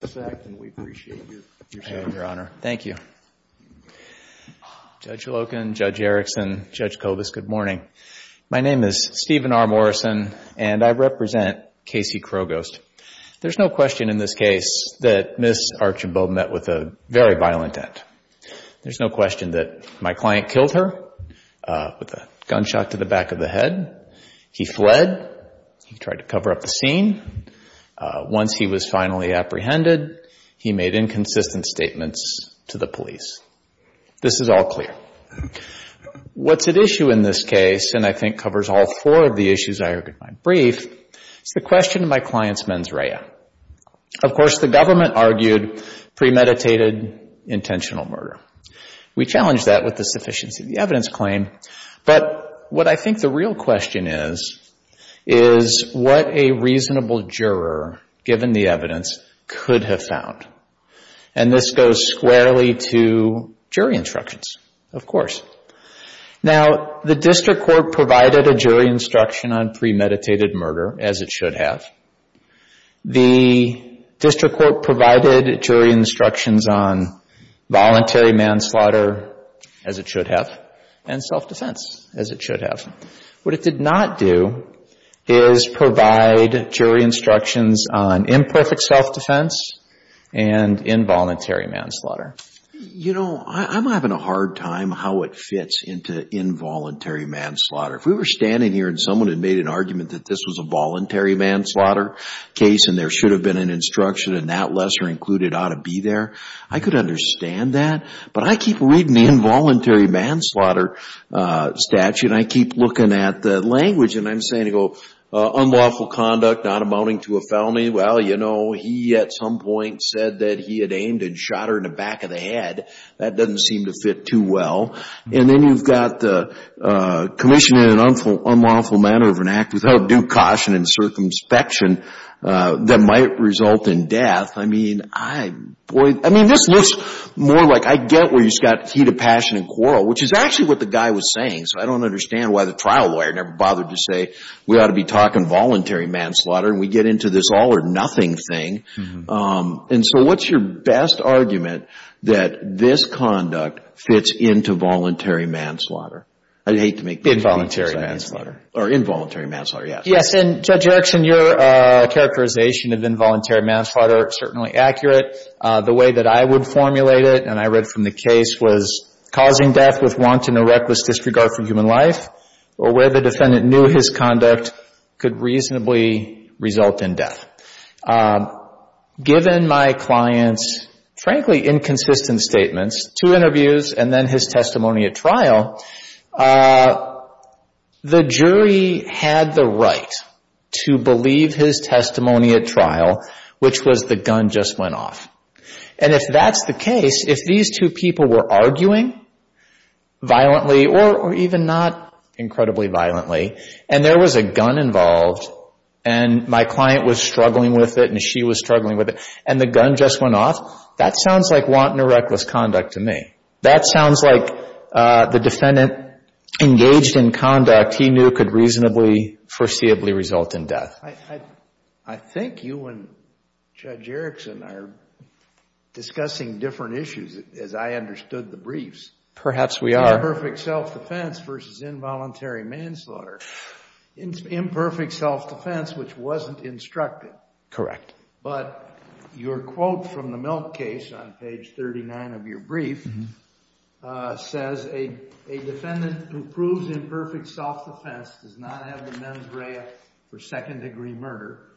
the fact and we appreciate your sharing, Your Honor. Thank you. Judge Loken, Judge Erickson, Judge Kovas, good morning. My name is Stephen R. Morrison and I represent Casey Crow Ghost. There's no question in this case that Ms. Archambault met with a very violent end. There's no question that my client killed her with a gunshot to the back of the head. He fled. He tried to cover up the scene. Once he was finally apprehended, he made inconsistent statements to the police. This is all clear. What's at issue in this case and I think covers all four of the issues I argued in my brief is the question of my client's mens rea. Of course, the government argued premeditated intentional murder. We challenged that with the sufficiency of the evidence claim, but what I think the real question is, is what a reasonable juror, given the evidence, could have found? This goes squarely to jury instructions, of course. Now, the district court provided a jury instruction on premeditated murder, as it should have. The district court provided jury instructions on voluntary manslaughter, as it should have, and self-defense, as it should have. What it did not do is provide jury instructions on imperfect self-defense and involuntary manslaughter. You know, I'm having a hard time how it fits into involuntary manslaughter. If we were standing here and someone had made an argument that this was a voluntary manslaughter case and there should have been an instruction and that lesser included ought to be there, I could understand that, but I keep reading involuntary manslaughter statute and I keep looking at the language, and I'm saying, you know, unlawful conduct not amounting to a felony. Well, you know, he at some point said that he had aimed and shot her in the back of the head. That doesn't seem to fit too well, and then you've got commission in an unlawful manner of an act without due caution and circumspection that might result in death. I mean, this looks more like, I get where you've got heat of passion and quarrel, which is actually what the guy was saying, so I don't understand why the trial lawyer never bothered to say, we ought to be talking voluntary manslaughter, and we get into this all or nothing thing. And so what's your best argument that this conduct fits into voluntary manslaughter? I'd hate to make the same mistake. Involuntary manslaughter. Or involuntary manslaughter, yes. Yes, and Judge Erickson, your characterization of involuntary manslaughter is certainly accurate. The way that I would formulate it, and I read from the case, was causing death with want and a reckless disregard for human life, or where the defendant knew his conduct could reasonably result in death. Given my client's, frankly, inconsistent statements, two interviews, and then his testimony at trial, the jury had the right to believe his testimony at trial, which was the gun just went off. And if that's the case, if these two people were arguing violently, or even not incredibly violently, and there was a gun involved, and my client was struggling with it, and she was struggling with it, and the gun just went off, that sounds like want and a reckless conduct to me. That sounds like the defendant engaged in conduct he knew could reasonably foreseeably result in death. I think you and Judge Erickson are discussing different issues, as I understood the briefs. Perhaps we are. Imperfect self-defense versus involuntary manslaughter. Imperfect self-defense, which wasn't instructed. Correct. But your quote from the Milk case on page 39 of your brief says, a defendant who proves imperfect self-defense does not have the mens rea for second degree murder,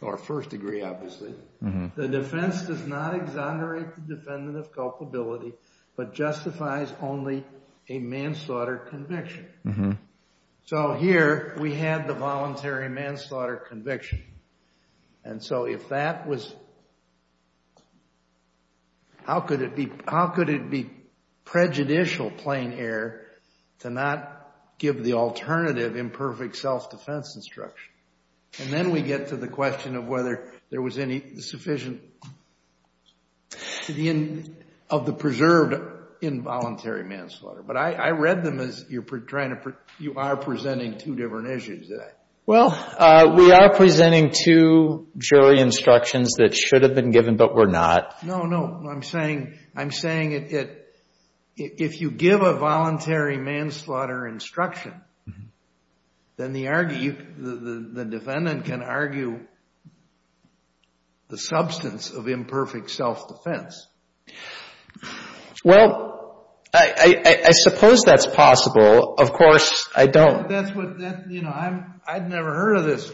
or first degree obviously, the defense does not exonerate the defendant of culpability, but justifies only a manslaughter conviction. So here, we have the voluntary manslaughter conviction. And so, if that was, how could it be prejudicial, plain air, to not give the alternative imperfect self-defense instruction? And then we get to the question of whether there was any sufficient, of the preserved involuntary manslaughter. But I read them as you are presenting two different issues today. Well, we are presenting two jury instructions that should have been given, but were not. No, no. I'm saying, I'm saying it, if you give a voluntary manslaughter instruction, then the argument, the defendant can argue the substance of imperfect self-defense. Well, I suppose that's possible. Of course, I don't. That's what, you know, I've never heard of this.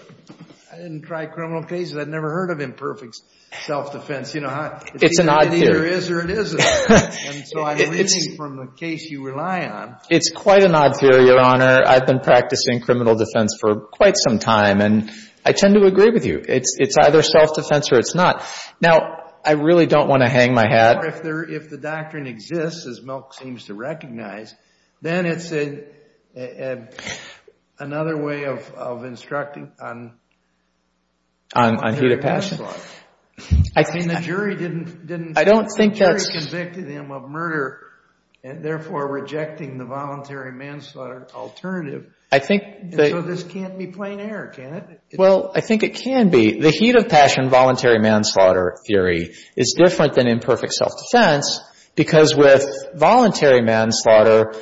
I didn't try criminal cases, I've never heard of imperfect self-defense. You know, it either is or it isn't. And so, I'm reading from the case you rely on. It's quite an odd theory, Your Honor. I've been practicing criminal defense for quite some time, and I tend to agree with you. It's either self-defense or it's not. Now, I really don't want to hang my hat. But if the doctrine exists, as Milk seems to recognize, then it's another way of instructing on voluntary manslaughter. On heat of passion? I mean, the jury didn't, the jury convicted him of murder, and therefore rejecting the voluntary manslaughter alternative. I think that... So, this can't be plain error, can it? Well, I think it can be. The heat of passion voluntary manslaughter theory is different than imperfect self-defense because with voluntary manslaughter,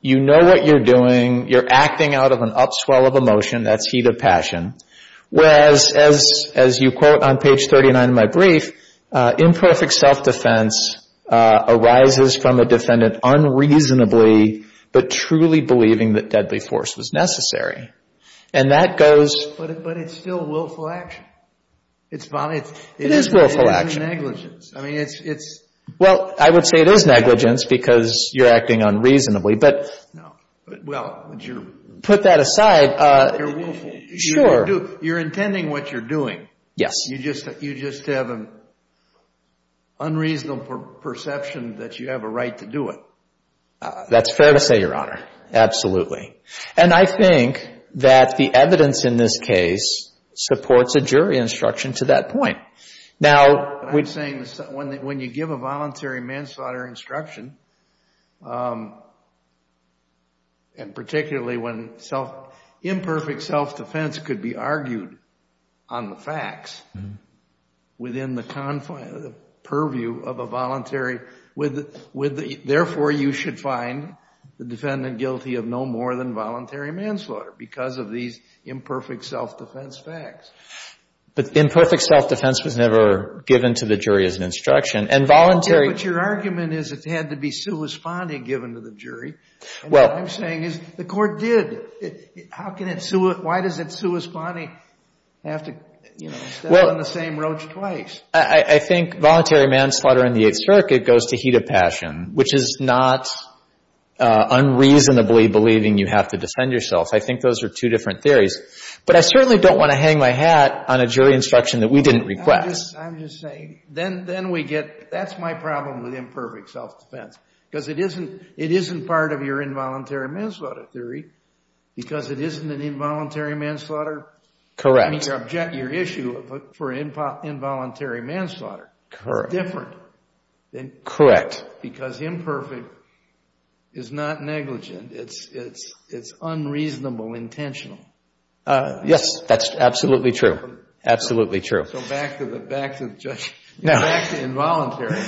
you know what you're doing, you're acting out of an upswell of emotion, that's heat of passion, whereas, as you quote on page 39 of my brief, imperfect self-defense arises from a defendant unreasonably but truly believing that deadly force was necessary. And that goes... It's fine. It is willful action. It is negligence. I mean, it's... Well, I would say it is negligence because you're acting unreasonably, but... No. Well, but you're... Put that aside. You're willful. Sure. You're intending what you're doing. Yes. You just have an unreasonable perception that you have a right to do it. That's fair to say, Your Honor. Absolutely. And I think that the evidence in this case supports a jury instruction to that point. Now... What I'm saying is that when you give a voluntary manslaughter instruction, and particularly when imperfect self-defense could be argued on the facts within the purview of a voluntary... Therefore, you should find the defendant guilty of no more than voluntary manslaughter because of these imperfect self-defense facts. But imperfect self-defense was never given to the jury as an instruction. And voluntary... Okay. But your argument is it had to be sui sponte given to the jury. Well... And what I'm saying is the court did. How can it sui... Why does it sui sponte have to step on the same roach twice? I think voluntary manslaughter in the Eighth Circuit goes to heat of passion, which is not unreasonably believing you have to defend yourself. I think those are two different theories. But I certainly don't want to hang my hat on a jury instruction that we didn't request. I'm just saying. Then we get... That's my problem with imperfect self-defense because it isn't part of your involuntary manslaughter theory because it isn't an involuntary manslaughter... Correct. I mean, your issue for involuntary manslaughter is different than imperfect. Correct. Because imperfect is not negligent. It's unreasonable intentional. Yes. That's absolutely true. Absolutely true. So back to the... Back to the judge... No. Back to involuntary.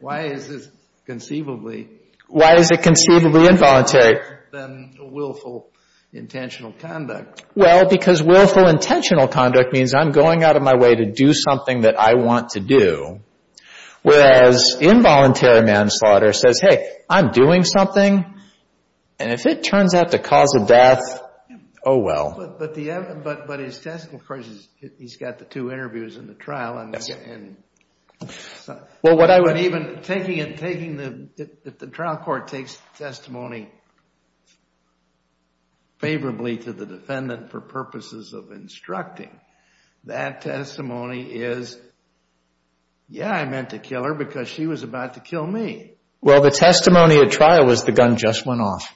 Why is this conceivably... Why is it conceivably involuntary? ...worse than willful intentional conduct? Well, because willful intentional conduct means I'm going out of my way to do something that I want to do, whereas involuntary manslaughter says, hey, I'm doing something, and if it turns out to cause a death, oh well. But his test... Of course, he's got the two interviews in the trial, and even taking the... ...doing something favorably to the defendant for purposes of instructing. That testimony is, yeah, I meant to kill her because she was about to kill me. Well, the testimony at trial was the gun just went off.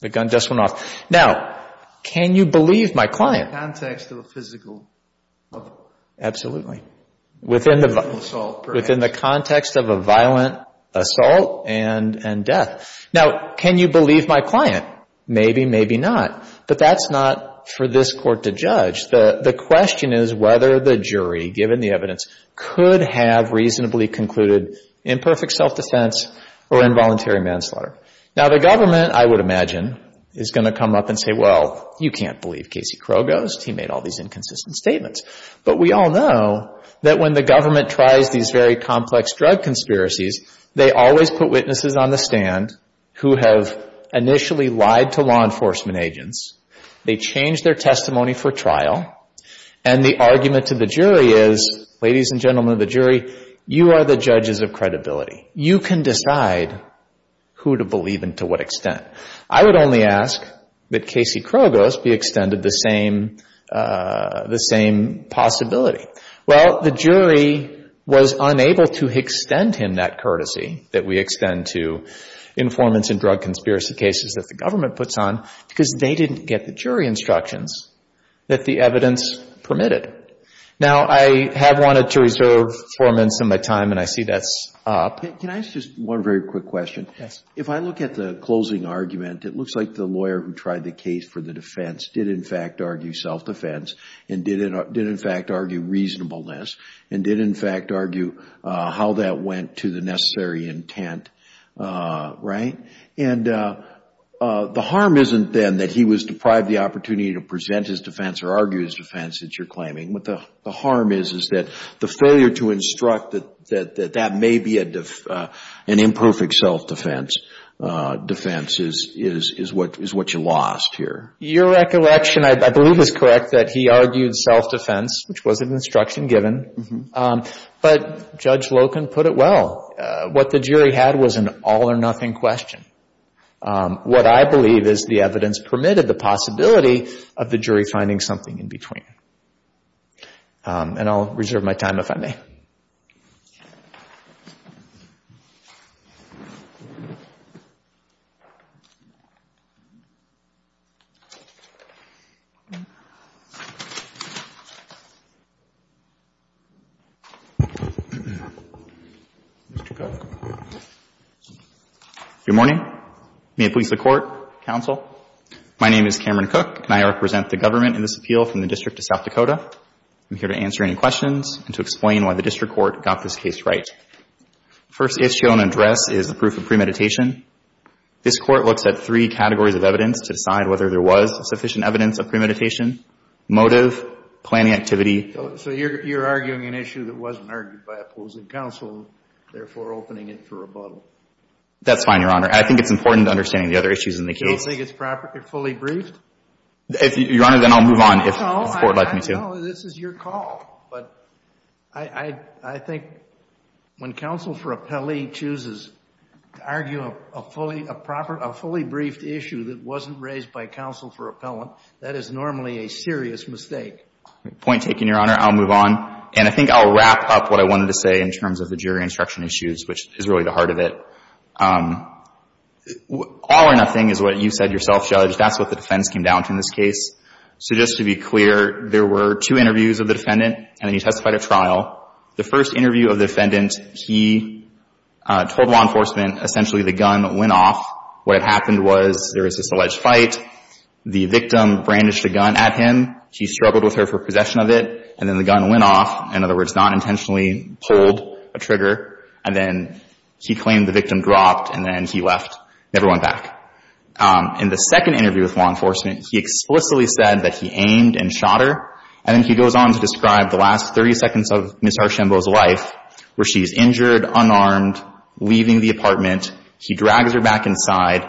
The gun just went off. Now, can you believe my client... ...in the context of a physical assault, perhaps. Absolutely. Within the context of a violent assault and death. Now, can you believe my client? Maybe, maybe not. But that's not for this court to judge. The question is whether the jury, given the evidence, could have reasonably concluded imperfect self-defense or involuntary manslaughter. Now, the government, I would imagine, is going to come up and say, well, you can't believe Casey Krogost. He made all these inconsistent statements. But we all know that when the government tries these very complex drug conspiracies, they always put witnesses on the stand who have initially lied to law enforcement agents. They change their testimony for trial. And the argument to the jury is, ladies and gentlemen of the jury, you are the judges of credibility. You can decide who to believe and to what extent. I would only ask that Casey Krogost be extended the same possibility. Well, the jury was unable to extend him that courtesy that we extend to informants in drug conspiracy cases that the government puts on because they didn't get the jury instructions that the evidence permitted. Now, I have wanted to reserve four minutes of my time, and I see that's up. Can I ask just one very quick question? Yes. If I look at the closing argument, it looks like the lawyer who tried the case for the reasonableness and did, in fact, argue how that went to the necessary intent, right? And the harm isn't then that he was deprived the opportunity to present his defense or argue his defense that you're claiming. What the harm is is that the failure to instruct that that may be an imperfect self-defense defense is what you lost here. Your recollection, I believe, is correct that he argued self-defense, which was an instruction given. But Judge Loken put it well. What the jury had was an all-or-nothing question. What I believe is the evidence permitted the possibility of the jury finding something in between. And I'll reserve my time if I may. Mr. Cook. Good morning. May it please the Court, Counsel. My name is Cameron Cook, and I represent the government in this appeal from the District of South Dakota. I'm here to answer any questions and to explain why the District Court got this case right. First issue and address is the proof of premeditation. This Court looks at three categories of evidence to decide whether there was sufficient evidence of premeditation, motive, planning activity. So you're arguing an issue that wasn't argued by opposing counsel, therefore opening it for rebuttal. That's fine, Your Honor. I think it's important to understand the other issues in the case. Do you think it's properly fully briefed? Your Honor, then I'll move on if the Court would like me to. No, this is your call. But I think when counsel for appellee chooses to argue a fully briefed issue that wasn't raised by counsel for appellant, that is normally a serious mistake. Point taken, Your Honor. I'll move on. And I think I'll wrap up what I wanted to say in terms of the jury instruction issues, which is really the heart of it. All or nothing is what you said yourself, Judge. That's what the defense came down to in this case. So just to be clear, there were two interviews of the defendant, and then he testified at trial. The first interview of the defendant, he told law enforcement essentially the gun went off. What had happened was there was this alleged fight. The victim brandished a gun at him. He struggled with her for possession of it, and then the gun went off. In other words, not intentionally pulled a trigger. And then he claimed the victim dropped, and then he left, never went back. In the second interview with law enforcement, he explicitly said that he aimed and shot her. And then he goes on to describe the last 30 seconds of Ms. Harshembo's life, where she's injured, unarmed, leaving the apartment. He drags her back inside,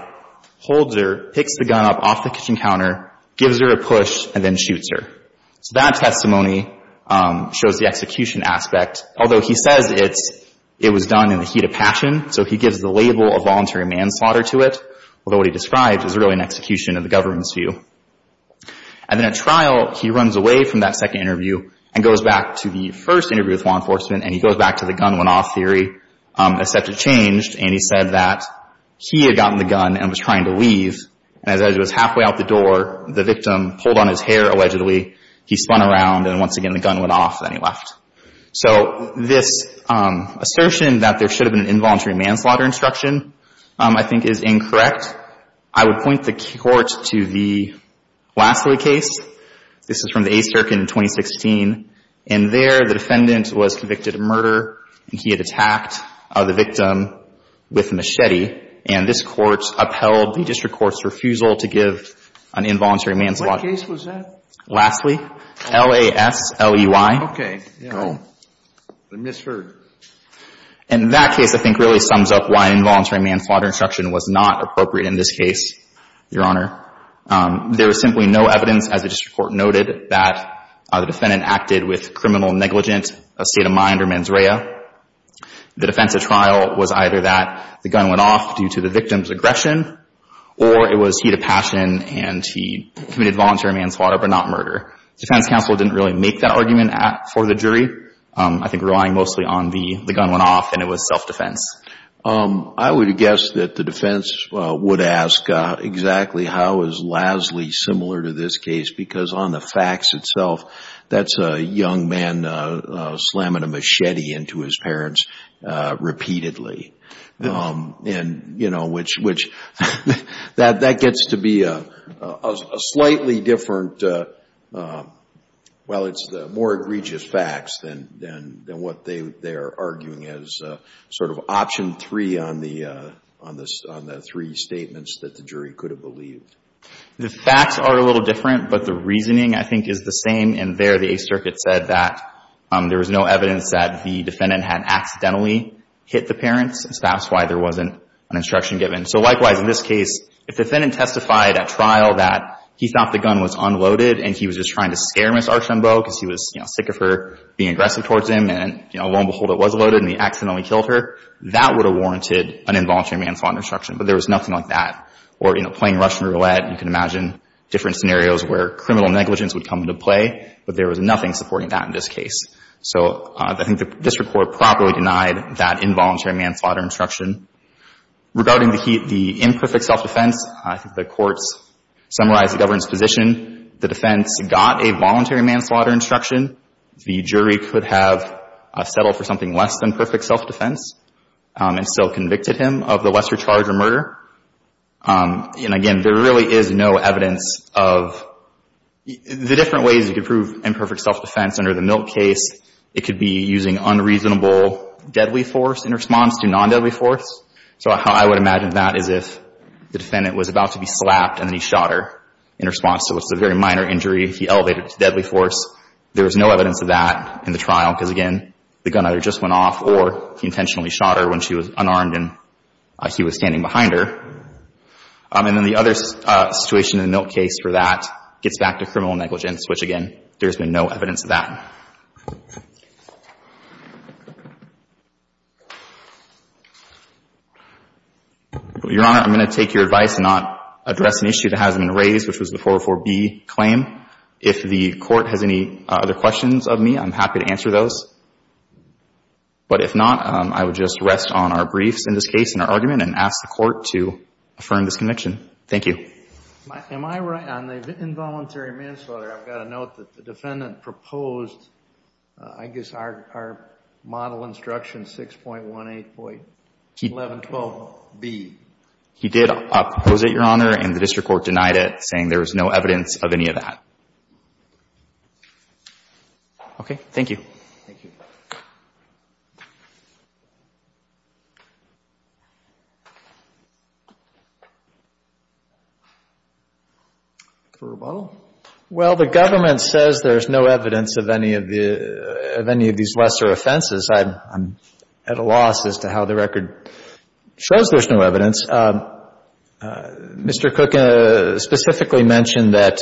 holds her, picks the gun up off the kitchen counter, gives her a push, and then shoots her. So that testimony shows the execution aspect. Although he says it was done in the heat of passion, so he gives the label of voluntary manslaughter to it. Although what he describes is really an execution of the government's view. And then at trial, he runs away from that second interview and goes back to the first interview with law enforcement, and he goes back to the gun went off theory, except it changed, and he said that he had gotten the gun and was trying to leave. And as it was halfway out the door, the victim pulled on his hair, allegedly. He spun around, and once again the gun went off, and then he left. So this assertion that there should have been an involuntary manslaughter instruction, I think is incorrect. I would point the court to the Lassley case. This is from the A Circuit in 2016, and there the defendant was convicted of murder, and he had attacked the victim with a machete. And this court upheld the district court's refusal to give an involuntary manslaughter. What case was that? Lassley, L-A-S-L-E-Y. Okay. I misheard. And that case, I think, really sums up why involuntary manslaughter instruction was not appropriate in this case, Your Honor. There was simply no evidence, as the district court noted, that the defendant acted with criminal negligence, a state of mind, or mens rea. The defense at trial was either that the gun went off due to the victim's aggression, or it was he had a passion and he committed voluntary manslaughter but not murder. Defense counsel didn't really make that argument for the jury, I think relying mostly on the gun went off and it was self-defense. I would guess that the defense would ask exactly how is Lassley similar to this case, because on the facts itself, that's a young man slamming a machete into his parents repeatedly. And, you know, which, that gets to be a slightly different, well, it's more egregious facts than what they are arguing as sort of option three on the three statements that the jury could have believed. The facts are a little different, but the reasoning, I think, is the same. And there, the Eighth Circuit said that there was no evidence that the defendant had accidentally hit the parents. That's why there wasn't an instruction given. So, likewise, in this case, if the defendant testified at trial that he thought the gun was unloaded and he was just trying to scare Ms. Archambault because he was, you know, being aggressive towards him and, you know, lo and behold, it was loaded and he accidentally killed her, that would have warranted an involuntary manslaughter instruction. But there was nothing like that. Or, you know, playing Russian roulette, you can imagine different scenarios where criminal negligence would come into play, but there was nothing supporting that in this case. So, I think the district court properly denied that involuntary manslaughter instruction. Regarding the key, the imperfect self-defense, I think the courts summarized the government's position. The defense got a voluntary manslaughter instruction. The jury could have settled for something less than perfect self-defense and still convicted him of the lesser charge of murder. And, again, there really is no evidence of the different ways you could prove imperfect self-defense under the Milk case. It could be using unreasonable deadly force in response to non-deadly force. So, I would imagine that as if the defendant was about to be slapped and then shot her in response to what's a very minor injury, he elevated to deadly force. There was no evidence of that in the trial, because, again, the gun either just went off or he intentionally shot her when she was unarmed and he was standing behind her. And then the other situation in the Milk case for that gets back to criminal negligence, which, again, there's been no evidence of that. Your Honor, I'm going to take your advice and not address an issue that hasn't been raised, which was the 404B claim. If the court has any other questions of me, I'm happy to answer those. But if not, I would just rest on our briefs in this case and our argument and ask the court to affirm this conviction. Thank you. Am I right on the involuntary manslaughter, I've got to note that the defendant proposed, I guess our model instruction, 6.18.1112B. He did propose it, Your Honor, and the district court denied it, saying there was no evidence of any of that. Okay, thank you. Thank you. For rebuttal? Well, the government says there's no evidence of any of these lesser offenses. I'm at a loss as to how the record shows there's no evidence. Mr. Cook specifically mentioned that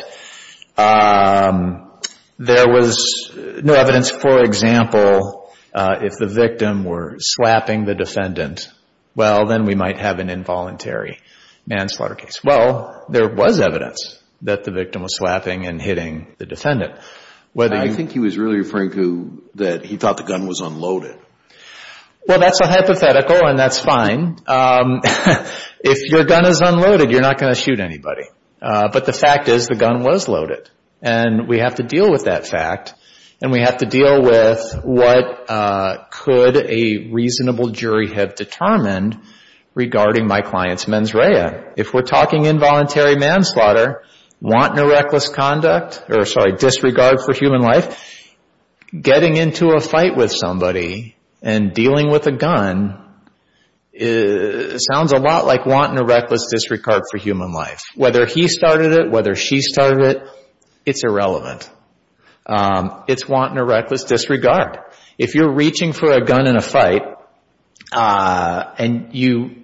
there was no evidence, for example, if the victim were swapping the defendant, well, then we might have an involuntary manslaughter case. Well, there was evidence that the victim was swapping and hitting the defendant. I think he was really referring to that he thought the gun was unloaded. Well, that's a hypothetical, and that's fine. If your gun is unloaded, you're not going to shoot anybody. But the fact is the gun was loaded. And we have to deal with that fact, and we have to deal with what could a reasonable jury have determined regarding my client's mens rea. If we're talking involuntary manslaughter, wanton or reckless conduct, or sorry, disregard for human life, getting into a fight with somebody and dealing with a gun sounds a lot like wanton or reckless disregard for human life. Whether he started it, whether she started it, it's irrelevant. It's wanton or reckless disregard. If you're reaching for a gun in a fight and you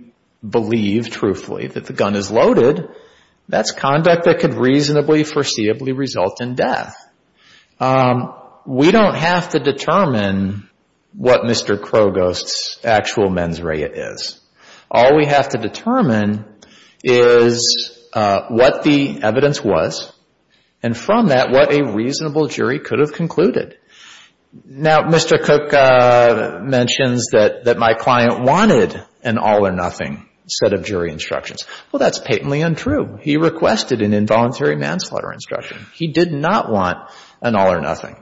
believe truthfully that the gun is loaded, that's conduct that could reasonably foreseeably result in death. We don't have to determine what Mr. Krogost's actual mens rea is. All we have to determine is what the evidence was, and from that, what a reasonable jury could have concluded. Now, Mr. Cook mentions that my client wanted an all or nothing set of jury instructions. Well, that's patently untrue. He requested an involuntary manslaughter instruction. He did not want an all or nothing.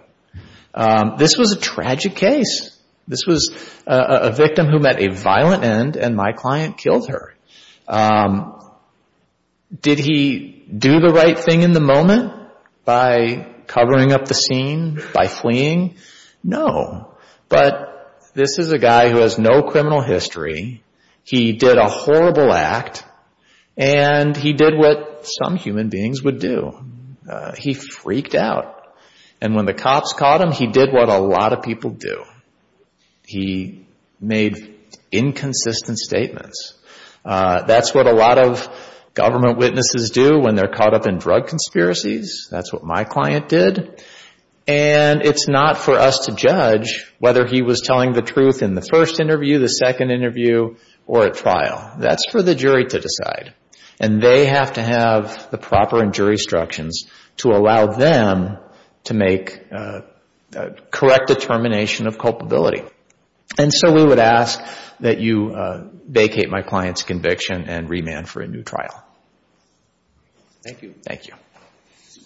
This was a tragic case. This was a victim who met a violent end, and my client killed her. Did he do the right thing in the moment by covering up the scene, by fleeing? No. But this is a guy who has no criminal history. He did a horrible act, and he did what some human beings would do. He freaked out. And when the cops caught him, he did what a lot of people do. He made inconsistent statements. That's what a lot of government witnesses do when they're caught up in drug conspiracies. That's what my client did. And it's not for us to judge whether he was telling the truth in the first interview, the second interview, or at trial. That's for the jury to decide. And they have to have the proper jury instructions to allow them to make correct determination of culpability. And so we would ask that you vacate my client's conviction and remand for a Thank you. Thank you.